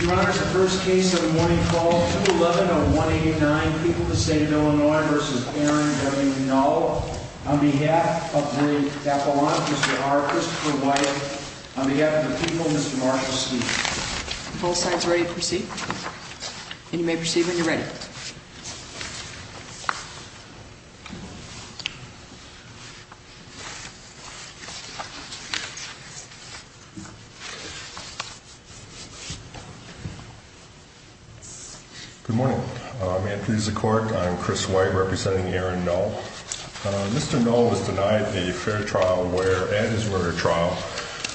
Your Honor, the first case of the morning call, 2-11-0189, People of the State of Illinois v. Aaron W. Null, on behalf of Marie Tappelant, Mr. R. Christopher White, on behalf of the people, Mr. Marshall Steele. Both sides ready to proceed? You may proceed when you're ready. Good morning. I'm Anthony Zakort. I'm Chris White, representing Aaron Null. Mr. Null was denied a fair trial where, at his murder trial,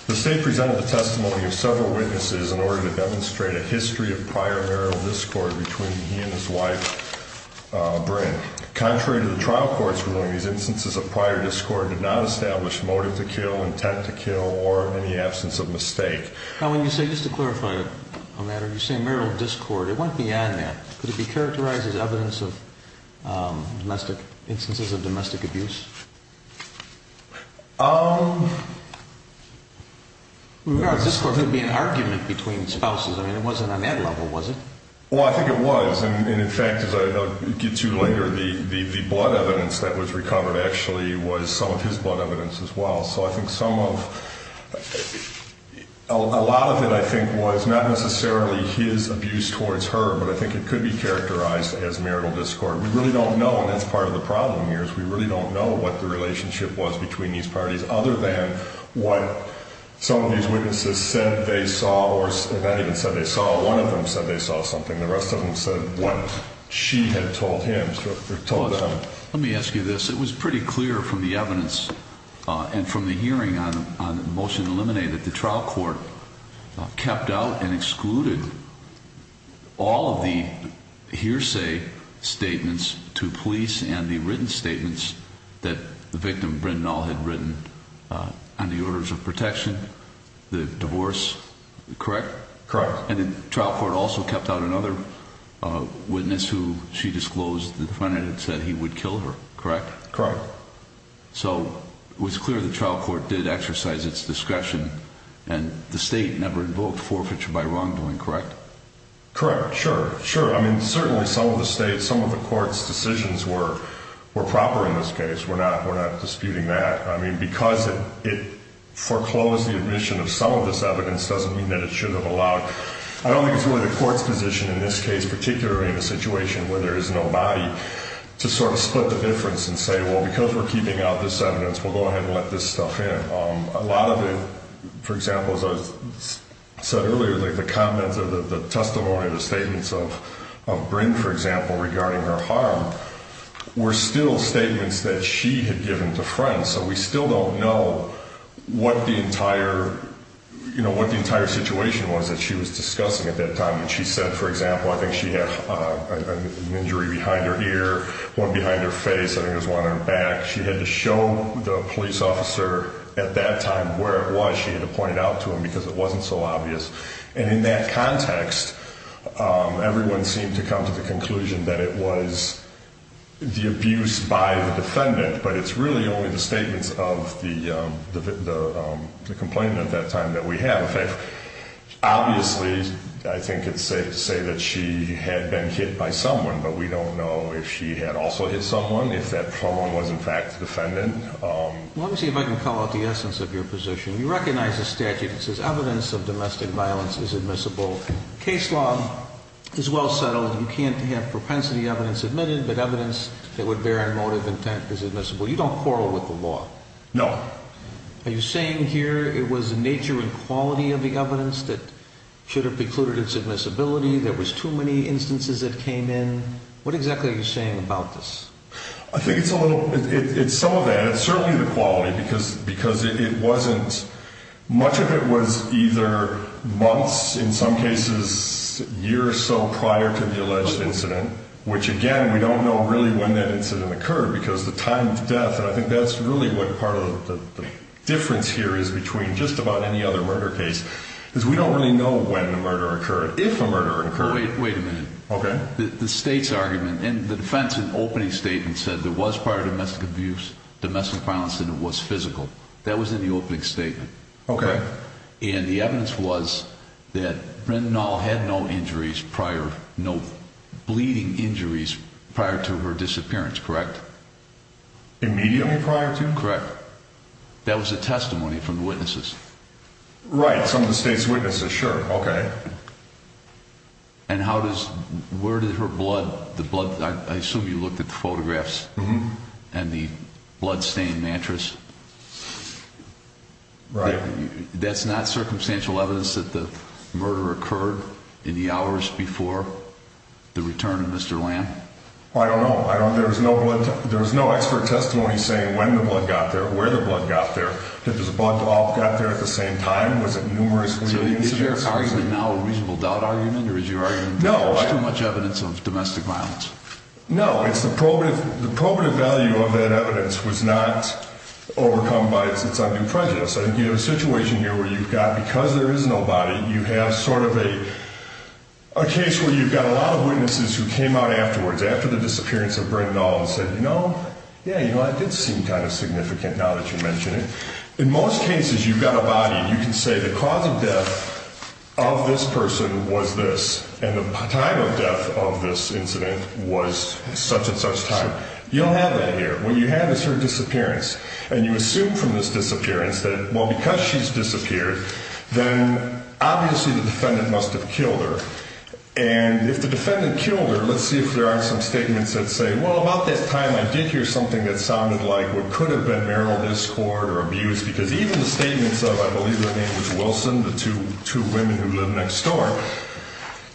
the state presented the testimony of several witnesses in order to demonstrate a history of prior marital discord between he and his wife, Brynn. Contrary to the trial court's ruling, these instances of prior discord did not establish motive to kill, intent to kill, or any absence of mistake. Now, when you say, just to clarify a matter, you say marital discord, it went beyond that. Could it be characterized as evidence of domestic, instances of domestic abuse? Um... We regard discord to be an argument between spouses. I mean, it wasn't on that level, was it? Well, I think it was. And in fact, as I'll get to later, the blood evidence that was recovered actually was some of his blood evidence as well. So I think some of... a lot of it, I think, was not necessarily his abuse towards her, but I think it could be characterized as marital discord. We really don't know, and that's part of the problem here, is we really don't know what the relationship was between these parties, other than what some of these witnesses said they saw, or not even said they saw, one of them said they saw something. The rest of them said what she had told him or told them. Let me ask you this. It was pretty clear from the evidence and from the hearing on the motion to eliminate that the trial court kept out and excluded all of the hearsay statements to police and the written statements that the victim, Bryn Nall, had written on the orders of protection, the divorce, correct? Correct. And the trial court also kept out another witness who she disclosed the defendant had said he would kill her, correct? Correct. So it was clear the trial court did exercise its discretion, and the state never invoked forfeiture by wrongdoing, correct? Correct. Sure. Sure. I mean, certainly some of the state, some of the court's decisions were proper in this case. We're not disputing that. I mean, because it foreclosed the admission of some of this evidence doesn't mean that it should have allowed. I don't think it's really the court's position in this case, particularly in a situation where there is no body, to sort of split the difference and say, well, because we're keeping out this evidence, we'll go ahead and let this stuff in. A lot of it, for example, as I said earlier, like the comments or the testimony or the statements of Bryn, for example, regarding her harm were still statements that she had given to friends, so we still don't know what the entire situation was that she was discussing at that time. And she said, for example, I think she had an injury behind her ear, one behind her face, I think it was one on her back. She had to show the police officer at that time where it was. She had to point it out to him because it wasn't so obvious. And in that context, everyone seemed to come to the conclusion that it was the abuse by the defendant, but it's really only the statements of the complainant at that time that we have. Obviously, I think it's safe to say that she had been hit by someone, but we don't know if she had also hit someone, if that someone was in fact the defendant. Let me see if I can call out the essence of your position. You recognize the statute that says evidence of domestic violence is admissible. Case law is well settled. You can't have propensity evidence admitted, but evidence that would bear a motive intent is admissible. You don't quarrel with the law. No. Are you saying here it was the nature and quality of the evidence that should have precluded its admissibility? There was too many instances that came in. What exactly are you saying about this? I think it's some of that. It's certainly the quality because it wasn't. Much of it was either months, in some cases years or so prior to the alleged incident, which, again, we don't know really when that incident occurred because the time of death, and I think that's really what part of the difference here is between just about any other murder case, because we don't really know when the murder occurred, if a murder occurred. Wait a minute. Okay. The state's argument, and the defense in the opening statement said there was prior domestic abuse, domestic violence, and it was physical. That was in the opening statement. Okay. And the evidence was that Brynn Nall had no injuries prior, no bleeding injuries prior to her disappearance, correct? Immediately prior to? Correct. That was a testimony from the witnesses. Right. Some of the state's witnesses. Sure. Okay. And where did her blood, the blood, I assume you looked at the photographs and the bloodstained mattress. Right. That's not circumstantial evidence that the murder occurred in the hours before the return of Mr. Lamb? I don't know. There was no expert testimony saying when the blood got there, where the blood got there, that the blood all got there at the same time. Was it numerous bleeding incidents? So is your argument now a reasonable doubt argument, or is your argument too much evidence of domestic violence? No. It's the probative value of that evidence was not overcome by its undue prejudice. I think you have a situation here where you've got, because there is no body, you have sort of a case where you've got a lot of witnesses who came out afterwards, after the disappearance of Brynn Nall, and said, you know, yeah, you know, this is kind of significant now that you mention it. In most cases, you've got a body. You can say the cause of death of this person was this, and the time of death of this incident was such and such time. You don't have that here. What you have is her disappearance, and you assume from this disappearance that, well, because she's disappeared, then obviously the defendant must have killed her. And if the defendant killed her, let's see if there are some statements that say, well, about this time I did hear something that sounded like what could have been marital discord or abuse, because even the statements of, I believe her name was Wilson, the two women who lived next door,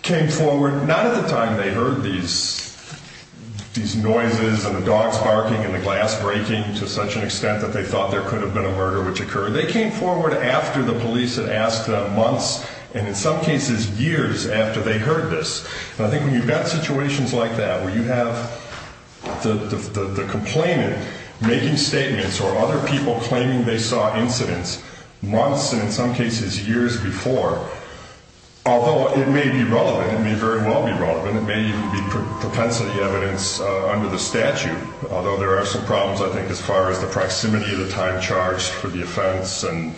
came forward not at the time they heard these noises and the dogs barking and the glass breaking to such an extent that they thought there could have been a murder which occurred. They came forward after the police had asked months, and in some cases years, after they heard this. And I think when you've got situations like that where you have the complainant making statements or other people claiming they saw incidents months and, in some cases, years before, although it may be relevant, it may very well be relevant, it may even be propensity evidence under the statute, although there are some problems, I think, as far as the proximity of the time charged for the offense and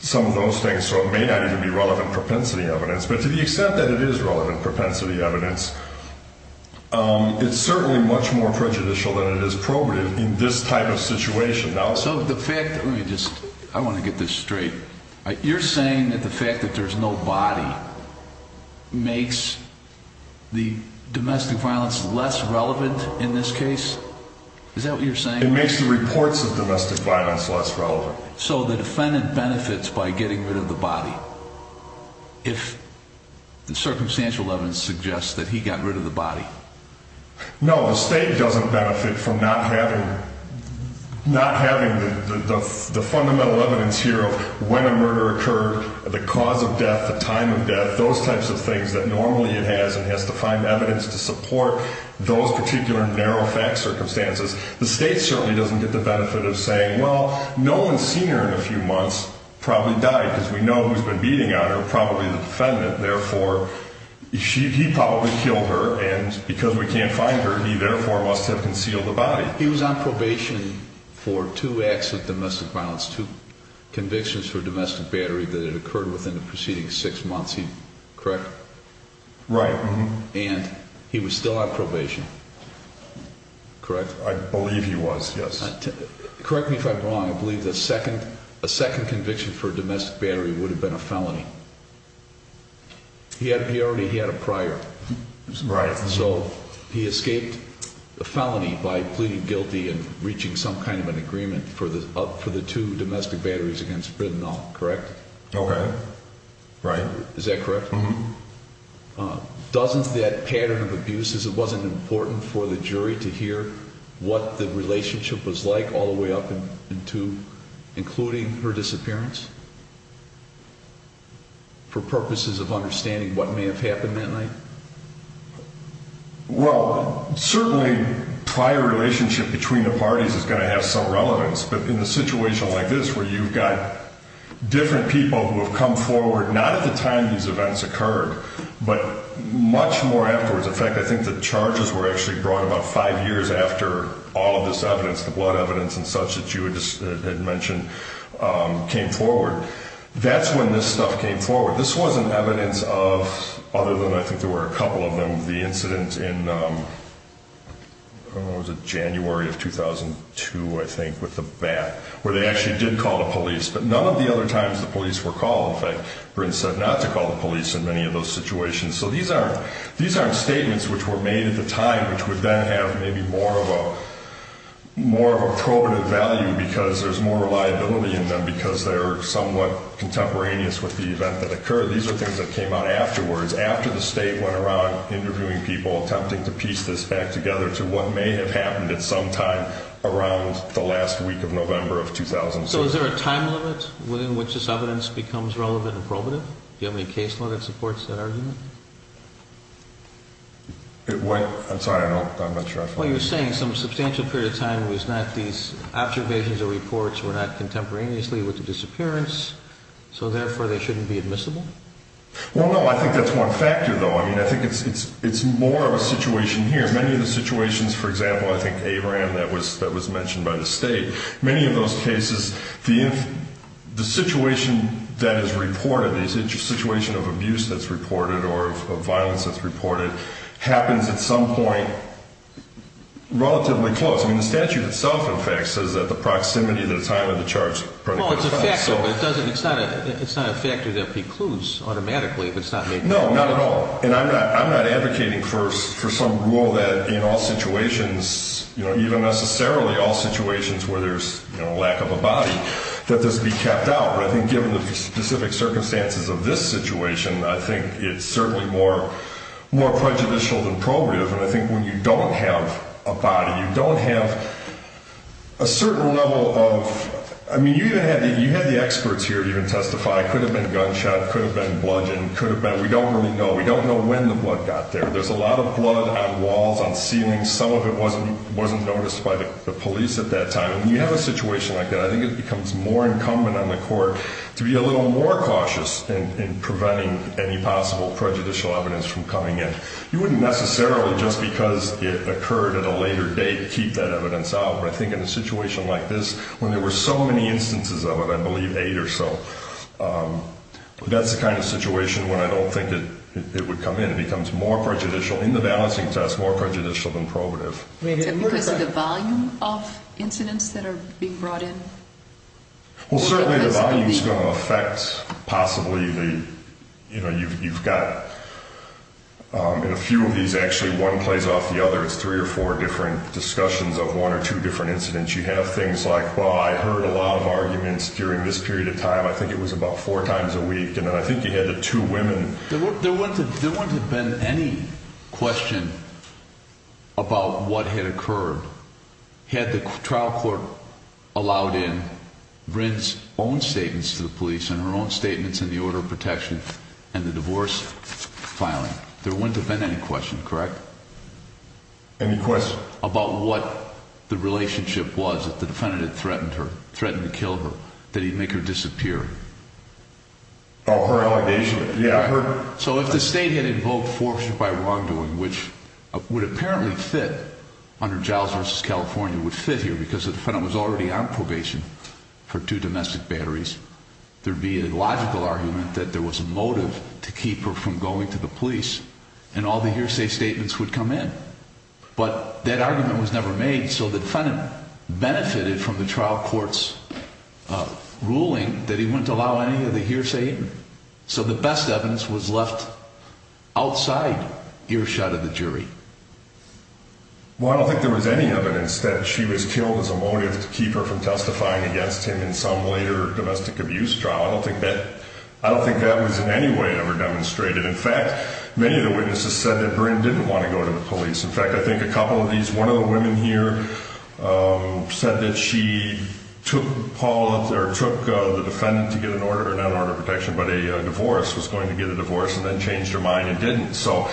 some of those things, so it may not even be relevant propensity evidence. But to the extent that it is relevant propensity evidence, it's certainly much more prejudicial than it is probative in this type of situation. So the fact that, let me just, I want to get this straight. You're saying that the fact that there's no body makes the domestic violence less relevant in this case? Is that what you're saying? It makes the reports of domestic violence less relevant. So the defendant benefits by getting rid of the body if the circumstantial evidence suggests that he got rid of the body? No, the state doesn't benefit from not having the fundamental evidence here of when a murder occurred, the cause of death, the time of death, those types of things that normally it has and has to find evidence to support those particular narrow fact circumstances. The state certainly doesn't get the benefit of saying, well, no one's seen her in a few months, probably died because we know who's been beating on her, probably the defendant, therefore he probably killed her and because we can't find her, he therefore must have concealed the body. He was on probation for two acts of domestic violence, two convictions for domestic battery that had occurred within the preceding six months, correct? Right. And he was still on probation, correct? I believe he was, yes. Correct me if I'm wrong. I believe the second conviction for domestic battery would have been a felony. He already had a prior. Right. So he escaped a felony by pleading guilty and reaching some kind of an agreement for the two domestic batteries against Brindol, correct? Okay. Right. Is that correct? Mm-hmm. Doesn't that pattern of abuses, it wasn't important for the jury to hear what the relationship was like all the way up into including her disappearance for purposes of understanding what may have happened that night? Well, certainly prior relationship between the parties is going to have some relevance, but in a situation like this where you've got different people who have come forward, not at the time these events occurred, but much more afterwards. In fact, I think the charges were actually brought about five years after all of this evidence, the blood evidence and such that you had mentioned came forward. That's when this stuff came forward. This wasn't evidence of, other than I think there were a couple of them, the incident in, I don't know, was it January of 2002, I think, with the bat, where they actually did call the police. But none of the other times the police were called. In fact, Brind said not to call the police in many of those situations. So these aren't statements which were made at the time, which would then have maybe more of a probative value because there's more reliability in them because they're somewhat contemporaneous with the event that occurred. These are things that came out afterwards, after the state went around interviewing people, attempting to piece this back together to what may have happened at some time around the last week of November of 2006. So is there a time limit within which this evidence becomes relevant and probative? Do you have any case law that supports that argument? I'm sorry, I'm not sure I follow. Well, you're saying some substantial period of time was not these observations or reports were not contemporaneously with the disappearance, so therefore they shouldn't be admissible? Well, no, I think that's one factor, though. I mean, I think it's more of a situation here. Many of the situations, for example, I think Abraham, that was mentioned by the state, many of those cases, the situation that is reported, the situation of abuse that's reported or of violence that's reported happens at some point relatively close. I mean, the statute itself, in fact, says that the proximity to the time of the charge is pretty close. Well, it's a factor, but it's not a factor that precludes automatically. No, not at all, and I'm not advocating for some rule that in all situations, even necessarily all situations where there's a lack of a body, that this be kept out. But I think given the specific circumstances of this situation, I think it's certainly more prejudicial than probative, and I think when you don't have a body, you don't have a certain level of, I mean, you had the experts here to even testify. It could have been gunshot, it could have been bludgeoning, it could have been, we don't really know. We don't know when the blood got there. There's a lot of blood on walls, on ceilings. Some of it wasn't noticed by the police at that time, and when you have a situation like that, I think it becomes more incumbent on the court to be a little more cautious in preventing any possible prejudicial evidence from coming in. You wouldn't necessarily, just because it occurred at a later date, keep that evidence out, but I think in a situation like this, when there were so many instances of it, I believe eight or so, that's the kind of situation when I don't think it would come in. It becomes more prejudicial in the balancing test, more prejudicial than probative. Is it because of the volume of incidents that are being brought in? Well, certainly the volume is going to affect possibly the, you know, you've got, in a few of these actually, one plays off the other. It's three or four different discussions of one or two different incidents. You have things like, well, I heard a lot of arguments during this period of time. I think it was about four times a week, and then I think you had the two women. There wouldn't have been any question about what had occurred had the trial court allowed in Brynn's own statements to the police and her own statements in the order of protection and the divorce filing. There wouldn't have been any question, correct? Any question? About what the relationship was that the defendant had threatened her, threatened to kill her, that he'd make her disappear. Oh, her allegation. So if the state had invoked forfeiture by wrongdoing, which would apparently fit under Giles v. California, would fit here because the defendant was already on probation for two domestic batteries, there would be a logical argument that there was a motive to keep her from going to the police, and all the hearsay statements would come in. But that argument was never made, so the defendant benefited from the trial court's ruling that he wouldn't allow any of the hearsay, so the best evidence was left outside earshot of the jury. Well, I don't think there was any evidence that she was killed as a motive to keep her from testifying against him in some later domestic abuse trial. I don't think that was in any way ever demonstrated. In fact, many of the witnesses said that Brynn didn't want to go to the police. In fact, I think a couple of these, one of the women here said that she took Paul, or took the defendant to get an order, not an order of protection, but a divorce, was going to get a divorce and then changed her mind and didn't. So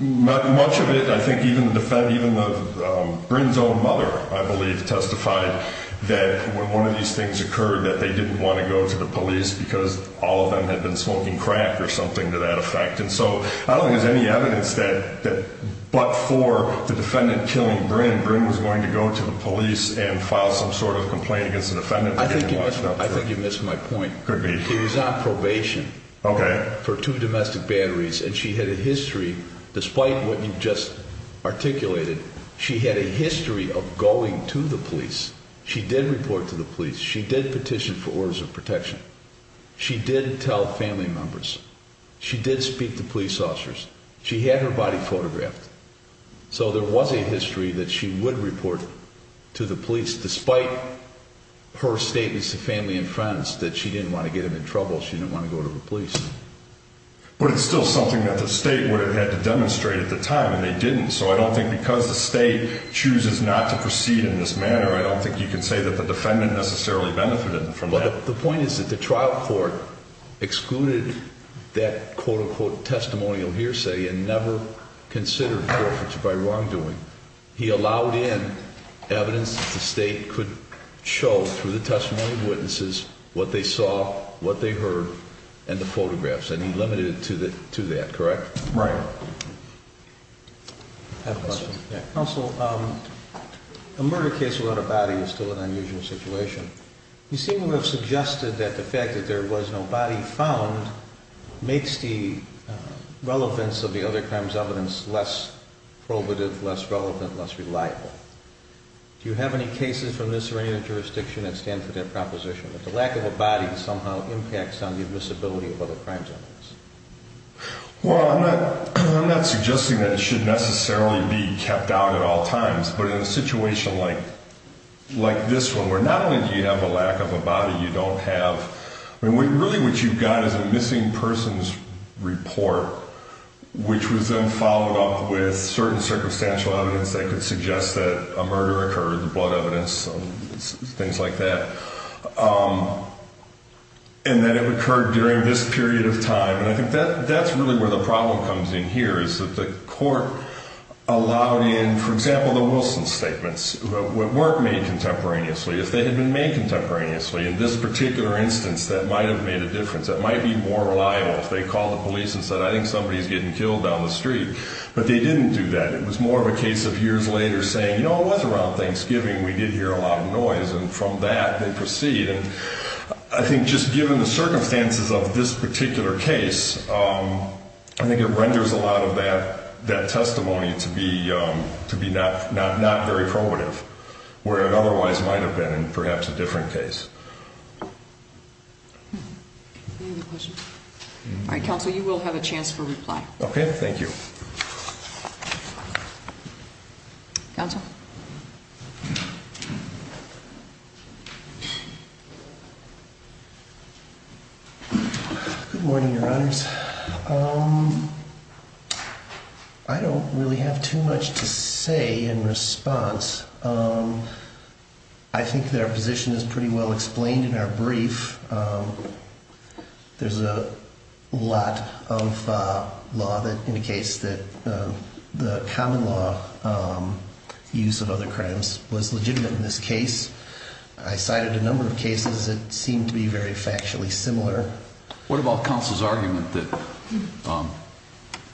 much of it, I think even the defense, even Brynn's own mother, I believe, testified that when one of these things occurred that they didn't want to go to the police because all of them had been smoking crack or something to that effect. And so I don't think there's any evidence that but for the defendant killing Brynn, Brynn was going to go to the police and file some sort of complaint against the defendant. I think you missed my point. Could be. She was on probation for two domestic batteries, and she had a history, despite what you just articulated, she had a history of going to the police. She did report to the police. She did petition for orders of protection. She did tell family members. She did speak to police officers. She had her body photographed. So there was a history that she would report to the police, despite her statements to family and friends that she didn't want to get them in trouble. She didn't want to go to the police. But it's still something that the state would have had to demonstrate at the time, and they didn't. So I don't think because the state chooses not to proceed in this manner, I don't think you can say that the defendant necessarily benefited from that. But the point is that the trial court excluded that, quote-unquote, testimonial hearsay and never considered the difference by wrongdoing. He allowed in evidence that the state could show through the testimony of witnesses, what they saw, what they heard, and the photographs, and he limited it to that, correct? Right. I have a question. Counsel, a murder case without a body is still an unusual situation. You seem to have suggested that the fact that there was no body found makes the relevance of the other crime's evidence less probative, less relevant, less reliable. Do you have any cases from this or any other jurisdiction that stand for that proposition, that the lack of a body somehow impacts on the admissibility of other crime's evidence? Well, I'm not suggesting that it should necessarily be kept out at all times, but in a situation like this one, where not only do you have a lack of a body, you don't have, I mean, really what you've got is a missing person's report, which was then followed up with certain circumstantial evidence that could suggest that a murder occurred, the blood evidence, things like that, and that it occurred during this period of time. And I think that's really where the problem comes in here is that the court allowed in, for example, the Wilson statements that weren't made contemporaneously. If they had been made contemporaneously in this particular instance, that might have made a difference. That might be more reliable if they called the police and said, I think somebody's getting killed down the street, but they didn't do that. It was more of a case of years later saying, you know, it was around Thanksgiving, we did hear a lot of noise, and from that they proceed. And I think just given the circumstances of this particular case, I think it renders a lot of that testimony to be not very probative, where it otherwise might have been in perhaps a different case. Any other questions? All right, counsel, you will have a chance for reply. Okay, thank you. Counsel? Good morning, Your Honors. I don't really have too much to say in response. I think that our position is pretty well explained in our brief. There's a lot of law that indicates that the common law uses of other crimes was legitimate in this case. I cited a number of cases that seemed to be very factually similar. What about counsel's argument that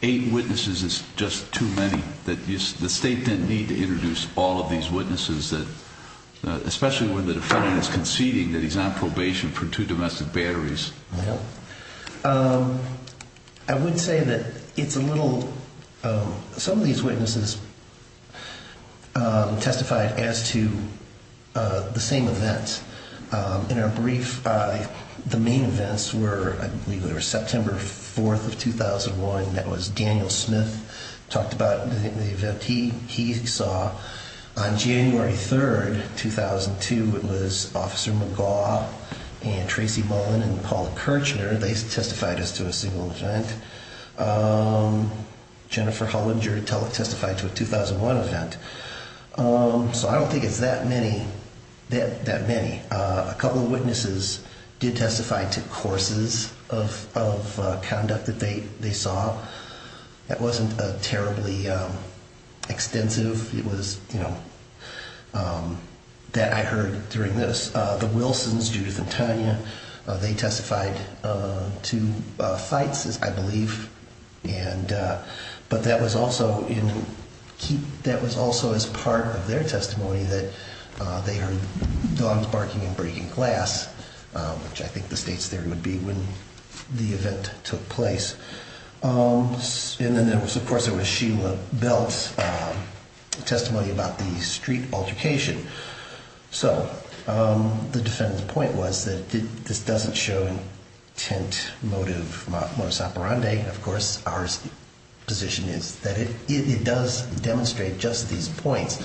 eight witnesses is just too many, that the State didn't need to introduce all of these witnesses, especially when the defendant is conceding that he's on probation for two domestic batteries? I would say that it's a little... Some of these witnesses testified as to the same events. In our brief, the main events were, I believe, they were September 4th of 2001. That was Daniel Smith talked about the event he saw. On January 3rd, 2002, it was Officer McGaugh and Tracy Bowen and Paula Kirchner. They testified as to a single event. Jennifer Hollinger testified to a 2001 event. So I don't think it's that many. A couple of witnesses did testify to courses of conduct that they saw. That wasn't terribly extensive. That I heard during this, the Wilsons, Judith and Tanya, they testified to fights, I believe. But that was also as part of their testimony that they heard dogs barking and breaking glass, which I think the State's theory would be when the event took place. And then, of course, there was Sheila Belt's testimony about the street altercation. So the defendant's point was that this doesn't show intent, motive, motus operandi. Of course, our position is that it does demonstrate just these points.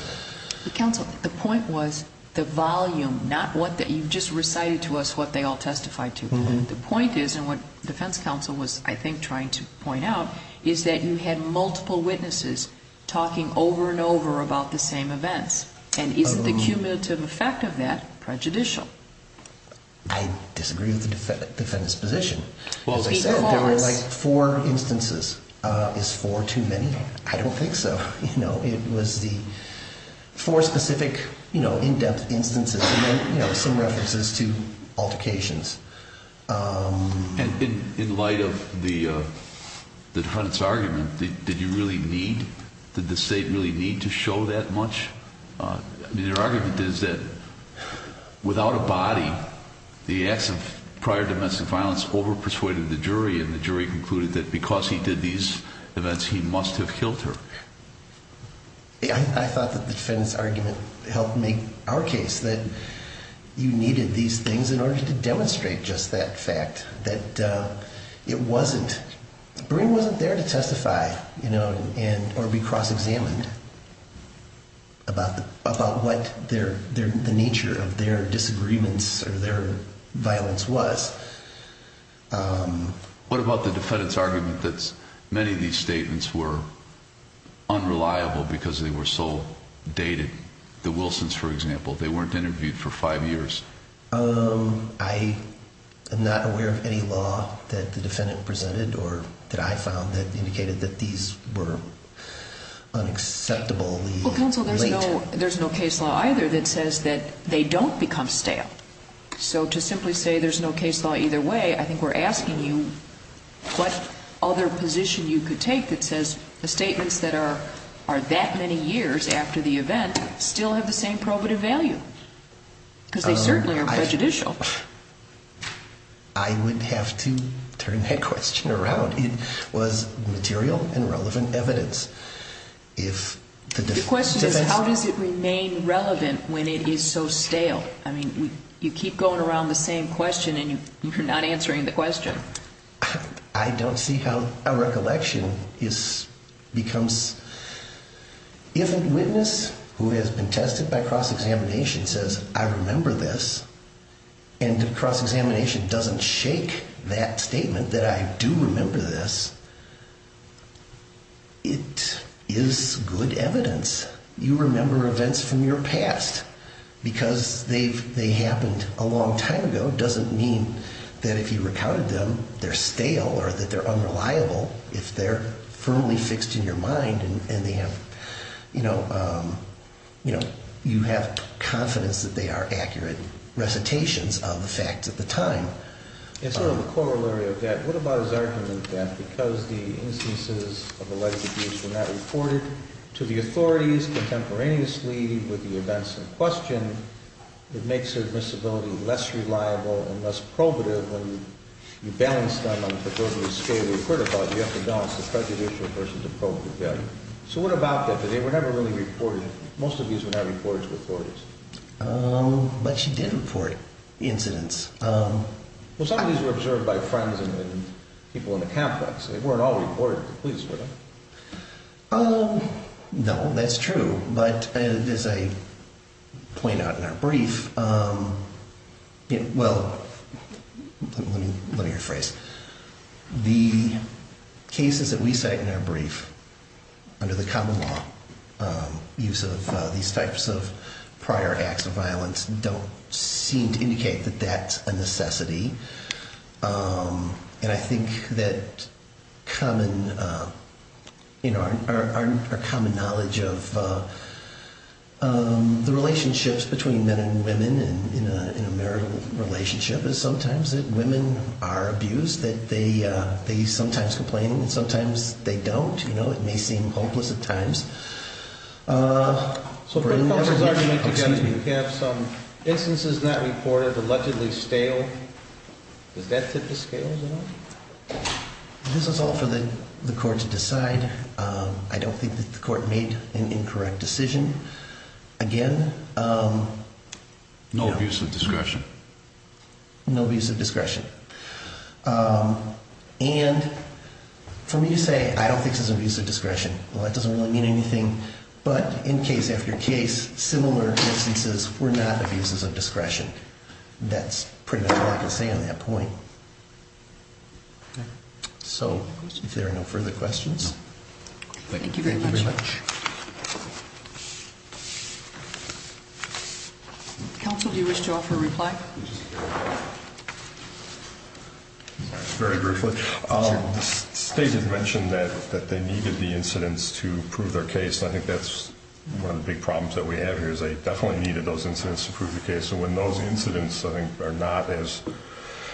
Counsel, the point was the volume, not what you just recited to us, what they all testified to. The point is, and what the defense counsel was, I think, trying to point out, is that you had multiple witnesses talking over and over about the same events. And isn't the cumulative effect of that prejudicial? I disagree with the defendant's position. As I said, there were like four instances. Is four too many? I don't think so. It was the four specific in-depth instances that made some references to altercations. In light of the Hunt's argument, did you really need, did the State really need to show that much? Your argument is that without a body, the acts of prior domestic violence over-persuaded the jury, and the jury concluded that because he did these events, he must have killed her. I thought that the defendant's argument helped make our case, that you needed these things in order to demonstrate just that fact. That it wasn't, the brain wasn't there to testify, or be cross-examined about what their, the nature of their disagreements or their violence was. What about the defendant's argument that many of these statements were unreliable because they were so dated? The Wilsons, for example, they weren't interviewed for five years. I am not aware of any law that the defendant presented or that I found that indicated that these were unacceptably late. Well, Counsel, there's no case law either that says that they don't become stale. So to simply say there's no case law either way, I think we're asking you what other position you could take that says the statements that are that many years after the event still have the same probative value? Because they certainly are prejudicial. I would have to turn that question around. It was material and relevant evidence. The question is, how does it remain relevant when it is so stale? You keep going around the same question and you're not answering the question. I don't see how a recollection becomes... If a witness who has been tested by cross-examination says, I remember this, and the cross-examination doesn't shake that statement that I do remember this, it is good evidence. You remember events from your past because they happened a long time ago. It doesn't mean that if you recounted them, they're stale or that they're unreliable if they're firmly fixed in your mind and you have confidence that they are accurate recitations of the facts at the time. In sort of a corollary of that, what about his argument that because the instances of alleged abuse were not reported to the authorities contemporaneously with the events in question, it makes their admissibility less reliable and less probative when you balance them on a particular scale you've heard about, you have to balance the prejudicial versus the probative value. So what about that? They were never really reported. Most of these were not reported to the authorities. But you did report incidents. Well, some of these were observed by friends and people in the complex. They weren't all reported to the police, were they? No, that's true, but as I point out in our brief, well, let me rephrase, the cases that we cite in our brief under the common law use of these types of prior acts of violence don't seem to indicate that that's a necessity. And I think that our common knowledge of the relationships between men and women in a marital relationship is sometimes that women are abused, that they sometimes complain and sometimes they don't. You know, it may seem hopeless at times. So court members already make the judgment that you have some instances not reported, allegedly stale. Does that tip the scales at all? This is all for the court to decide. I don't think that the court made an incorrect decision. Again... No abuse of discretion. And for me to say I don't think this is abuse of discretion, well, that doesn't really mean anything. But in case after case, similar instances were not abuses of discretion. That's pretty much all I can say on that point. So if there are no further questions... Thank you very much. Counsel, do you wish to offer a reply? Very briefly. The State has mentioned that they needed the incidents to prove their case. I think that's one of the big problems that we have here is they definitely needed those incidents to prove their case. And when those incidents, I think, are not as...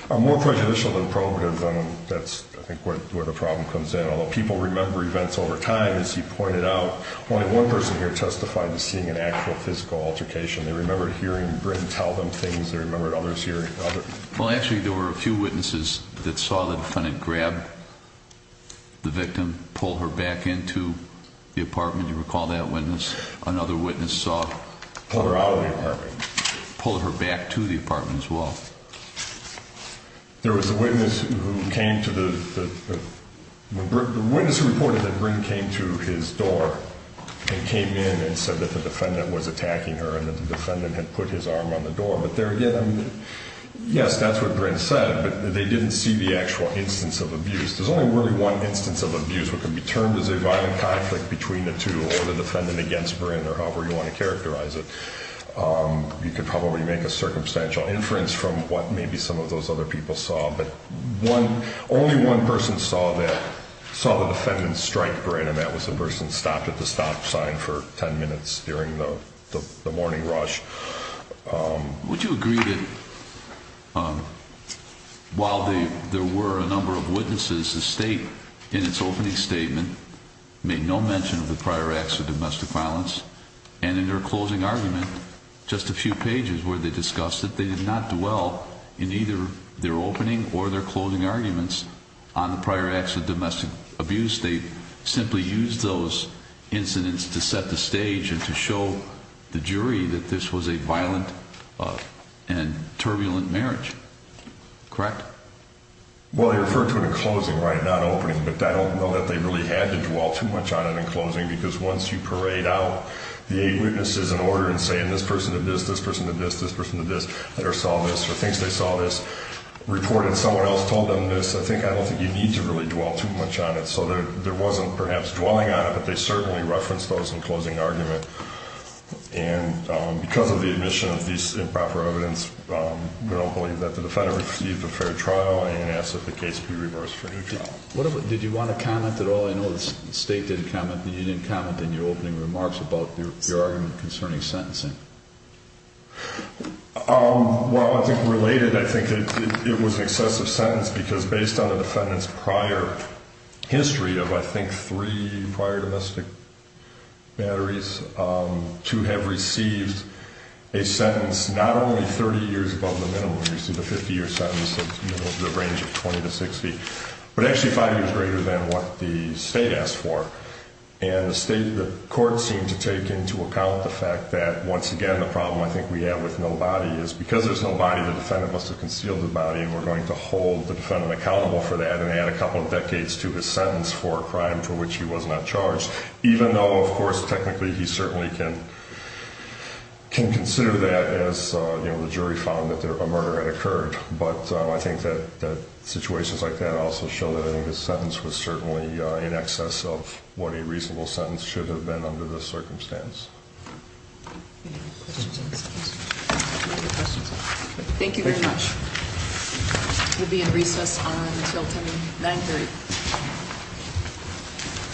are more prejudicial than probative, that's, I think, where the problem comes in. Although people remember events over time, as you pointed out, only one person here testified to seeing an actual physical altercation. They remembered hearing Brynn tell them things. They remembered others hearing other... Well, actually there were a few witnesses that saw the defendant grab the victim, pull her back into the apartment. Do you recall that witness? Another witness saw... Pulled her out of the apartment. Pulled her back to the apartment as well. There was a witness who came to the... The witness reported that Brynn came to his door and came in and said that the defendant was attacking her and that the defendant had put his arm on the door. But there again, yes, that's what Brynn said, but they didn't see the actual instance of abuse. There's only really one instance of abuse that can be termed as a violent conflict between the two or the defendant against Brynn or however you want to characterize it. You could probably make a circumstantial inference from what maybe some of those other people saw, but only one person saw that... saw the defendant strike Brynn, and that was the person who stopped at the stop sign for 10 minutes during the morning rush. Would you agree that while there were a number of witnesses, the state in its opening statement made no mention of the prior acts of domestic violence, and in their closing argument, just a few pages where they discussed that they did not dwell in either their opening or their closing arguments on the prior acts of domestic abuse. They simply used those incidents to set the stage and to show the jury that this was a violent and turbulent marriage. Correct? Well, they referred to it in closing, right, not opening, but I don't know that they really had to dwell too much on it in closing because once you parade out the eight witnesses in order and say, and this person did this, this person did this, this person did this, or saw this or thinks they saw this, reported someone else told them this, I don't think you need to really dwell too much on it. So there wasn't perhaps dwelling on it, but they certainly referenced those in closing argument. And because of the admission of these improper evidence, we don't believe that the defendant received a fair trial and asked that the case be reversed for a new trial. Did you want to comment at all? I know the state didn't comment, but you didn't comment in your opening remarks about your argument concerning sentencing. Well, I think related, I think it was an excessive sentence because based on the defendant's prior history of, I think, three prior domestic batteries, to have received a sentence not only 30 years above the minimum, you see the 50-year sentence, the range of 20 to 60, but actually five years greater than what the state asked for. And the state, the court seemed to take into account the fact that, once again, the problem I think we have with no body is because there's no body, the defendant must have concealed the body, and we're going to hold the defendant accountable for that and add a couple of decades to his sentence for a crime for which he was not charged, even though, of course, technically he certainly can consider that as, you know, the jury found that a murder had occurred. But I think that situations like that also show that I think his sentence was certainly in excess of what a reasonable sentence should have been under this circumstance. Any other questions? Thank you very much. We'll be in recess until 10 to 9.30.